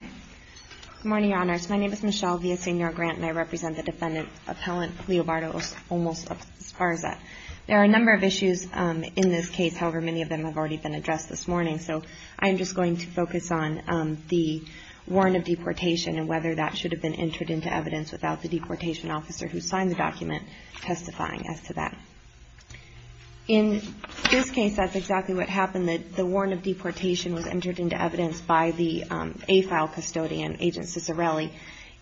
Good morning, Your Honors. My name is Michelle Villaseñor-Grant and I represent the Defendant Appellant, Leo Bartolos Olmos-Esparza. There are a number of issues in this case, however many of them have already been addressed this morning, so I'm just going to focus on the warrant of deportation and whether that should have been entered into evidence without the deportation officer who signed the document testifying as to that. In this case, that's exactly what happened. The warrant of deportation was entered into evidence by the AFAL custodian, Agent Cicerelli,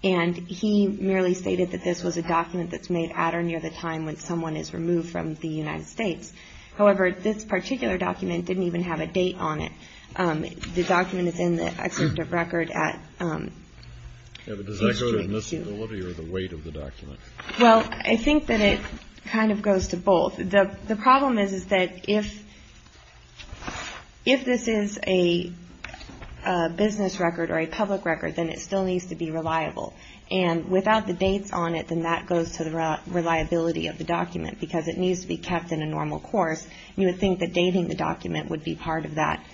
and he merely stated that this was a document that's made at or near the time when someone is removed from the United States. However, this particular document didn't even have a date on it. The document is in the excerpt of record at... Yeah, but does that go to admissibility or the weight of the document? Well, I think that it kind of goes to both. The problem is that if this is a business record or a public record, then it still needs to be reliable. And without the dates on it, then that goes to the reliability of the document because it needs to be kept in a normal course. You would think that dating the document would be part of that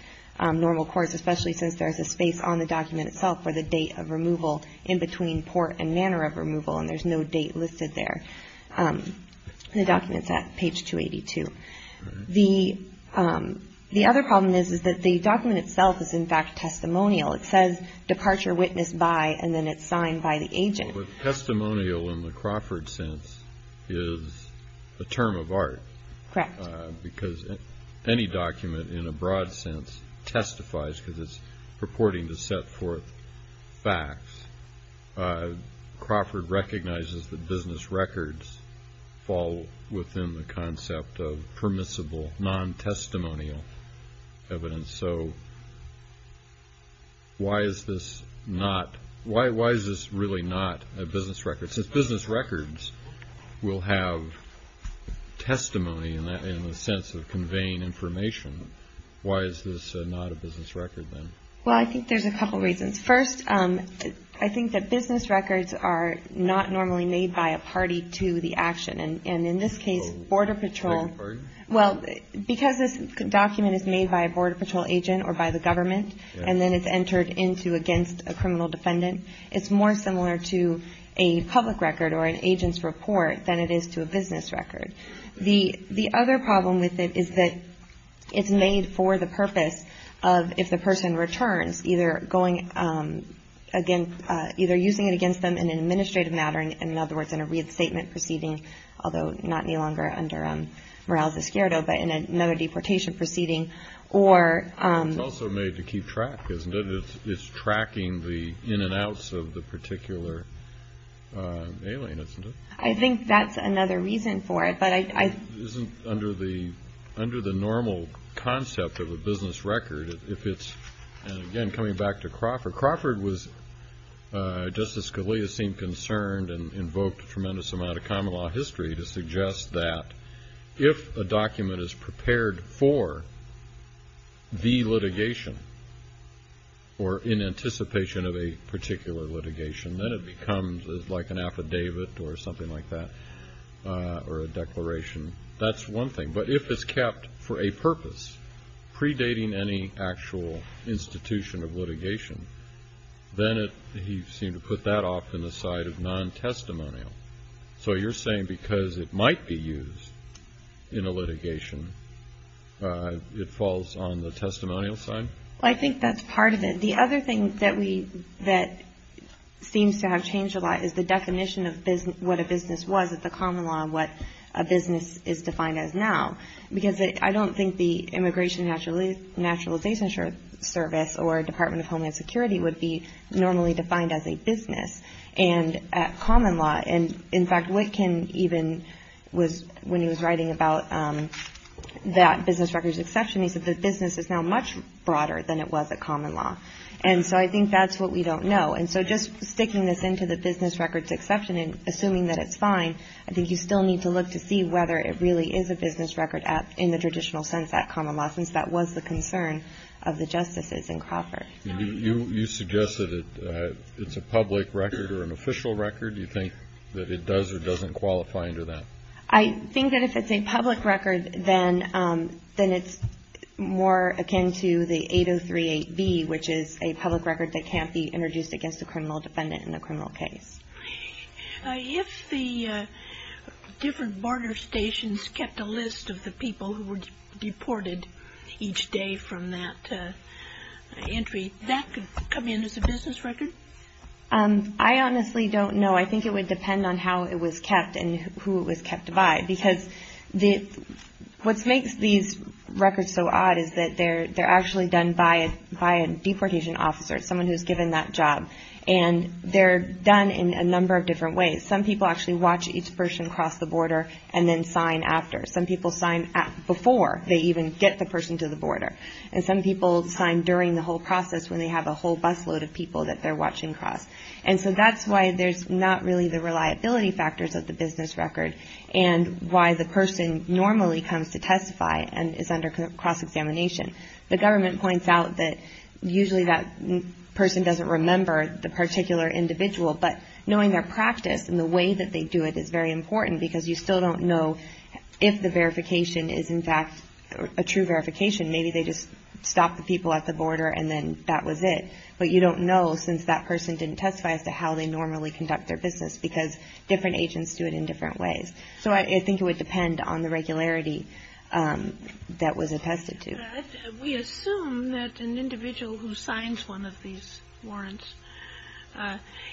normal course, especially since there's a space on the document itself for the date of removal in between port and banner of removal, and there's no date listed there. The document's at page 282. The other problem is that the document itself is, in fact, testimonial. It says, Departure Witness By, and then it's signed by the agent. Well, but testimonial in the Crawford sense is a term of art. Correct. Because any document, in a broad sense, testifies because it's purporting to set forth facts. Crawford recognizes that business records fall within the concept of permissible, non-testimonial evidence. So why is this not... Why is this really not a business record? Since business records will have testimony in the sense of conveying information, why is this not a business record, then? Well, I think there's a couple reasons. First, I think that business records are not normally made by a party to the action. And in this case, Border Patrol... A private party? Well, because this document is made by a Border Patrol agent or by the government, and then it's entered into against a criminal defendant, it's more similar to a public record or an agent's report than it is to a business record. The other problem with it is that it's made for the purpose of, if the person returns, either using it against them in an administrative matter, in other words, in a restatement proceeding, although not any longer under Morales-Escuero, but in another deportation proceeding, or... It's tracking the in and outs of the particular alien, isn't it? I think that's another reason for it, but I... It isn't under the normal concept of a business record if it's... And again, coming back to Crawford, Crawford was, Justice Scalia seemed concerned and invoked a tremendous amount of common law history to suggest that if a document is prepared for the litigation or in anticipation of a particular litigation, then it becomes like an affidavit or something like that, or a declaration. That's one thing. But if it's kept for a purpose, predating any actual institution of litigation, then he seemed to put that off in the side of non-testimonial. So you're saying because it might be used in a litigation, it falls on the testimonial side? I think that's part of it. The other thing that we, that seems to have changed a lot is the definition of what a business was at the common law and what a business is defined as now. Because I don't think the Immigration and Naturalization Service or Department of Homeland Security would be normally defined as a business. And at common law, and in fact, Wittgen even was, when he was writing about that business records exception, he said the business is now much broader than it was at common law. And so I think that's what we don't know. And so just sticking this into the business records exception and assuming that it's fine, I think you still need to look to see whether it really is a business record at, in the traditional sense at common law, since that was the concern of the justices in Crawford. You suggest that it's a public record or an official record? Do you think that it does or doesn't qualify under that? I think that if it's a public record, then it's more akin to the 8038B, which is a public record that can't be introduced against a criminal defendant in a criminal case. If the different barter stations kept a list of the people who were deported each day from that entry, that could come in as a business record? I honestly don't know. I think it would depend on how it was kept and who it was kept by. Because what makes these records so odd is that they're actually done by a deportation officer, someone who's given that job. And they're done in a number of different ways. Some people actually watch each person cross the border and then sign after. Some people sign before they even get the person to the border. And some people sign during the whole process when they have a whole busload of people that they're watching cross. And so that's why there's not really the reliability factors of the business record and why the person normally comes to testify and is under cross-examination. The government points out that usually that person doesn't remember the particular individual. But knowing their practice and the way that they do it is very important because you still don't know if the verification is in fact a true verification. Maybe they just stopped the people at the border and then that was it. But you don't know since that person didn't testify as to how they normally conduct their business because different agents do it in different ways. So I think it would depend on the regularity that was attested to. But we assume that an individual who signs one of these warrants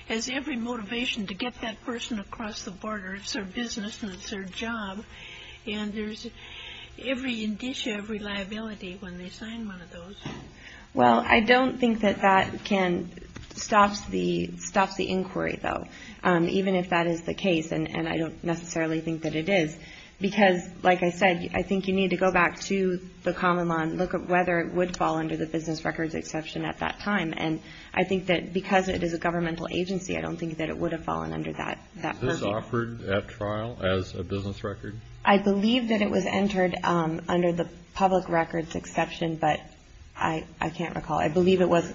has every motivation to get that person across the border. It's their business and it's their job. And there's every indicia, every liability when they sign one of those. Well, I don't think that that can stop the inquiry, though, even if that is the case. And I don't necessarily think that it is. Because, like I said, I think you need to go back to the common law and look at whether it would fall under the business records exception at that time. And I think that because it is a governmental agency, I don't think that it would have fallen under that purview. Was this offered at trial as a business record? I believe that it was entered under the public records exception, but I can't recall. I believe it was.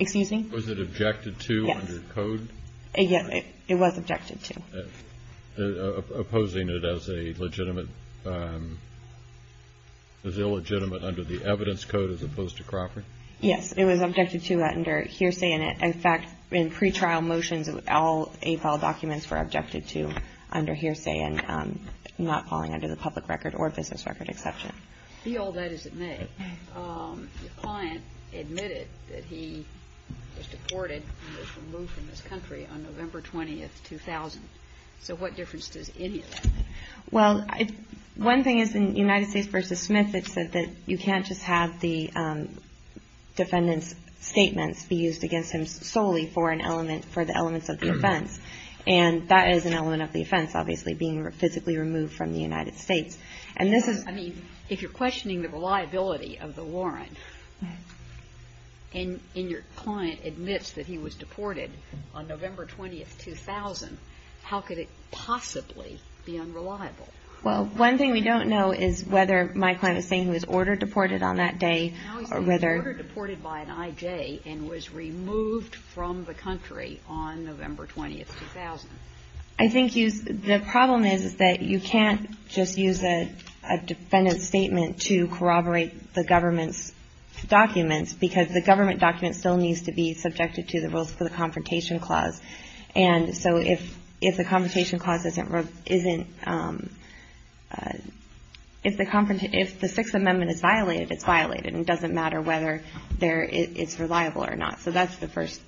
Excuse me? Was it objected to under code? Yes. It was objected to. Opposing it as a legitimate, as illegitimate under the evidence code as opposed to Crawford? Yes. It was objected to under hearsay. And, in fact, in pretrial motions, all APOL documents were objected to under hearsay and not falling under the public record or business record exception. Be all that as it may, the client admitted that he was deported and was removed from this country on November 20th, 2000. So what difference does any of that make? Well, one thing is in United States v. Smith, it said that you can't just have the defendant's statements be used against him solely for an element, for the elements of the offense. And that is an element of the offense, obviously, being physically removed from the United States. And this is I mean, if you're questioning the reliability of the warrant and your client admits that he was deported on November 20th, 2000, how could it possibly be unreliable? Well, one thing we don't know is whether my client is saying he was order-deported on that day or whether Now he's been order-deported by an I.J. and was removed from the country on November 20th, 2000. I think you the problem is that you can't just use a defendant's statement to corroborate the government's documents, because the government document still needs to be subjected to the rules for the Confrontation Clause. And so if the Confrontation Clause isn't If the Sixth Amendment is violated, it's violated. And it doesn't matter whether it's reliable or not. So that's the first issue.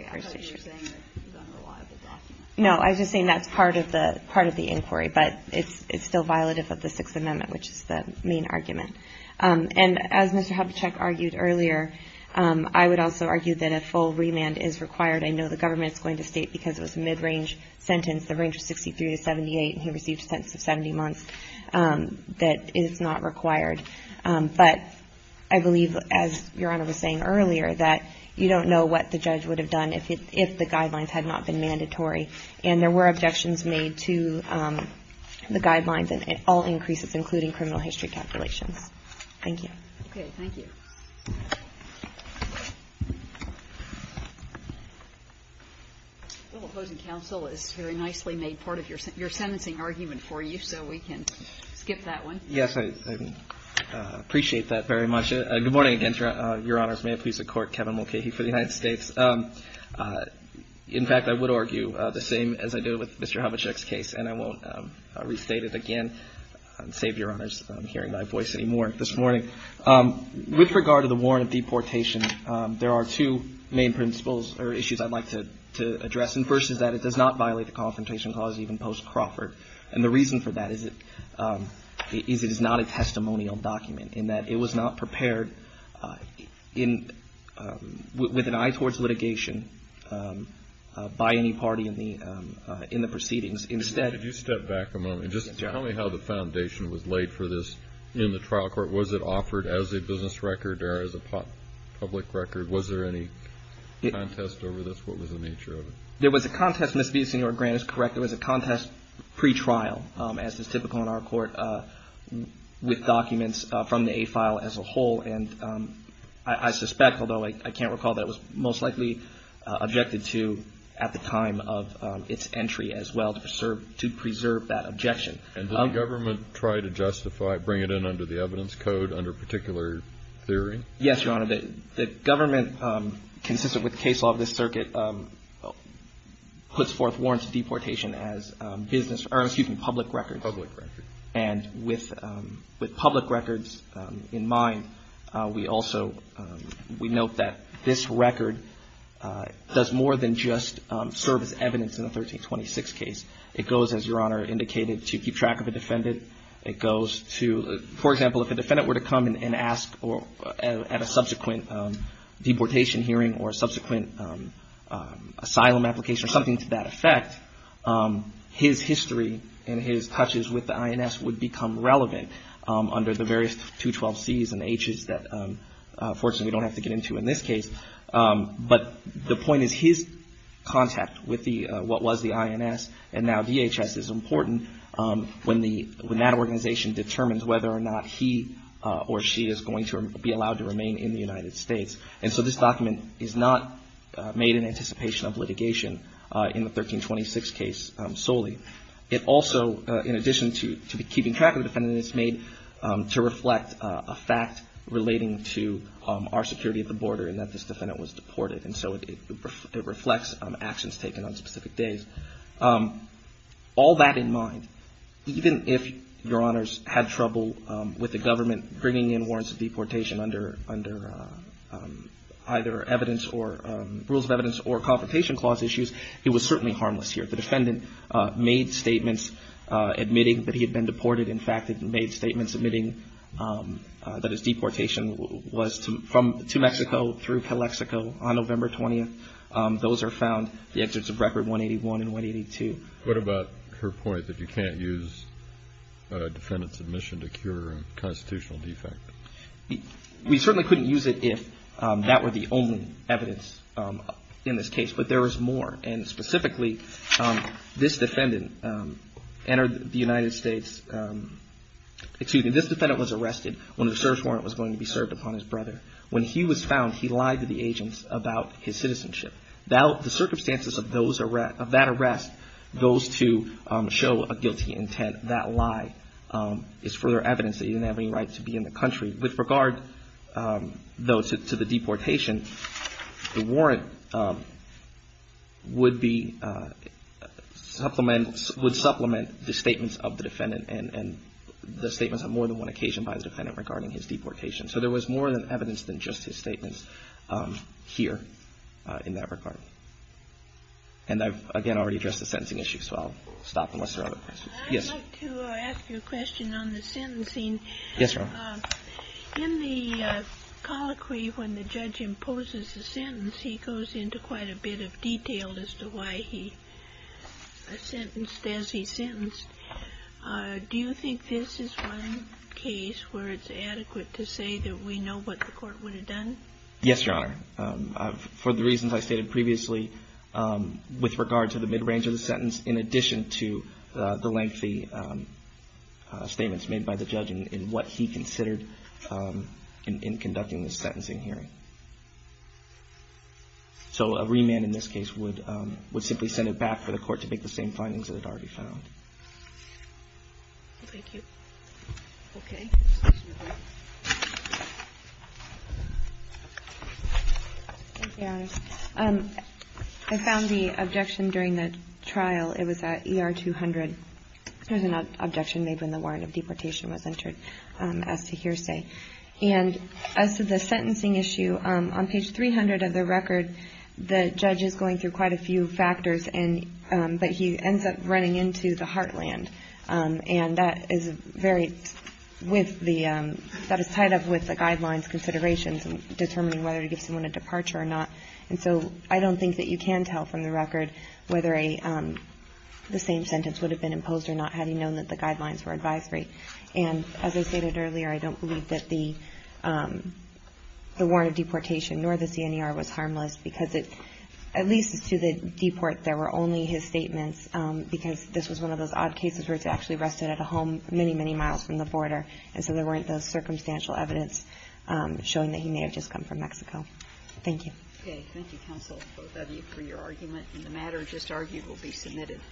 Okay. I thought you were saying that it's an unreliable document. No. I was just saying that's part of the inquiry. But it's still violative of the Sixth Amendment, which is the main argument. And as Mr. Habachek argued earlier, I would also argue that a full remand is required. I know the government is going to state because it was a mid-range sentence, the range of 63 to 78, and he received a sentence of 70 months, that it's not required. But I believe, as Your Honor was saying earlier, that you don't know what the judge would have done if the guidelines had not been mandatory. And there were objections made to the guidelines and all increases, including criminal history calculations. Thank you. Okay. Thank you. The opposing counsel has very nicely made part of your sentencing argument for you, so we can skip that one. Yes. I appreciate that very much. Good morning again, Your Honors. May it please the Court, Kevin Mulcahy for the United States. In fact, I would argue the same as I did with Mr. Habachek's case, and I won't restate it again, save Your Honors hearing my voice anymore this morning. With regard to the warrant of deportation, there are two main principles or issues I'd like to address. And the first is that it does not violate the Confrontation Clause, even post-Crawford. And the reason for that is it is not a testimonial document, in that it was not prepared with an eye towards litigation by any party in the proceedings. Instead — Could you step back a moment? Yes, Your Honor. Just tell me how the foundation was laid for this in the trial court. Was it offered as a business record or as a public record? Was there any contest over this? What was the nature of it? There was a contest. Ms. Villasenor-Grant is correct. There was a contest pretrial, as is typical in our court, with documents from the A file as a whole. And I suspect, although I can't recall, that it was most likely objected to at the time of its entry as well to preserve that objection. And did the government try to justify it, bring it in under the evidence code, under particular theory? Yes, Your Honor. The government, consistent with the case law of this circuit, puts forth warrants of deportation as business — or, excuse me, public records. Public records. And with public records in mind, we also — we note that this record does more than just serve as evidence in the 1326 case. It goes, as Your Honor indicated, to keep track of a defendant. It goes to — for example, if a defendant were to come and ask at a subsequent deportation hearing or subsequent asylum application or something to that effect, his history and his touches with the INS would become relevant under the various 212Cs and Hs that, fortunately, we don't have to get into in this case. But the point is, his contact with what was the INS and now DHS is important when that organization determines whether or not he or she is going to be allowed to remain in the United States. And so this document is not made in anticipation of litigation in the 1326 case solely. It also, in addition to keeping track of the defendant, is made to reflect a fact relating to our security at the border and that this defendant was deported. And so it reflects actions taken on specific days. All that in mind, even if Your Honors had trouble with the government bringing in warrants of deportation under either evidence or rules of evidence or Confrontation Clause issues, he was certainly harmless here. The defendant made statements admitting that he had been deported. In fact, he made statements admitting that his deportation was to Mexico through Calexico on November 20th. Those are found, the exits of Record 181 and 182. What about her point that you can't use a defendant's admission to cure a constitutional defect? We certainly couldn't use it if that were the only evidence in this case. But there was more. And specifically, this defendant entered the United States – excuse me, this defendant was arrested when a search warrant was going to be served upon his brother. When he was found, he lied to the agents about his citizenship. The circumstances of that arrest, those two show a guilty intent. That lie is further evidence that he didn't have any right to be in the country. With regard, though, to the deportation, the warrant would supplement the statements of the defendant and the statements on more than one occasion by the defendant regarding his deportation. And I've, again, already addressed the sentencing issue, so I'll stop unless there are other questions. I'd like to ask you a question on the sentencing. Yes, Your Honor. In the colloquy, when the judge imposes a sentence, he goes into quite a bit of detail as to why he sentenced as he sentenced. Do you think this is one case where it's adequate to say that we know what the court would have done? Yes, Your Honor. For the reasons I stated previously, with regard to the mid-range of the sentence, in addition to the lengthy statements made by the judge in what he considered in conducting the sentencing hearing. So a remand in this case would simply send it back for the court to make the same findings that it already found. Thank you. Okay. Thank you, Your Honor. I found the objection during the trial. It was at ER 200. There's an objection made when the warrant of deportation was entered as to hearsay. And as to the sentencing issue, on page 300 of the record, the judge is going through quite a few factors, but he ends up running into the heartland. And that is tied up with the guidelines considerations in determining whether to give someone a departure or not. And so I don't think that you can tell from the record whether the same sentence would have been imposed or not had he known that the guidelines were advisory. And as I stated earlier, I don't believe that the warrant of deportation nor the CNER was harmless because at least to the deport, there were only his statements because this was one of those odd cases where it's actually arrested at a home many, many miles from the border. And so there weren't those circumstantial evidence showing that he may have just come from Mexico. Thank you.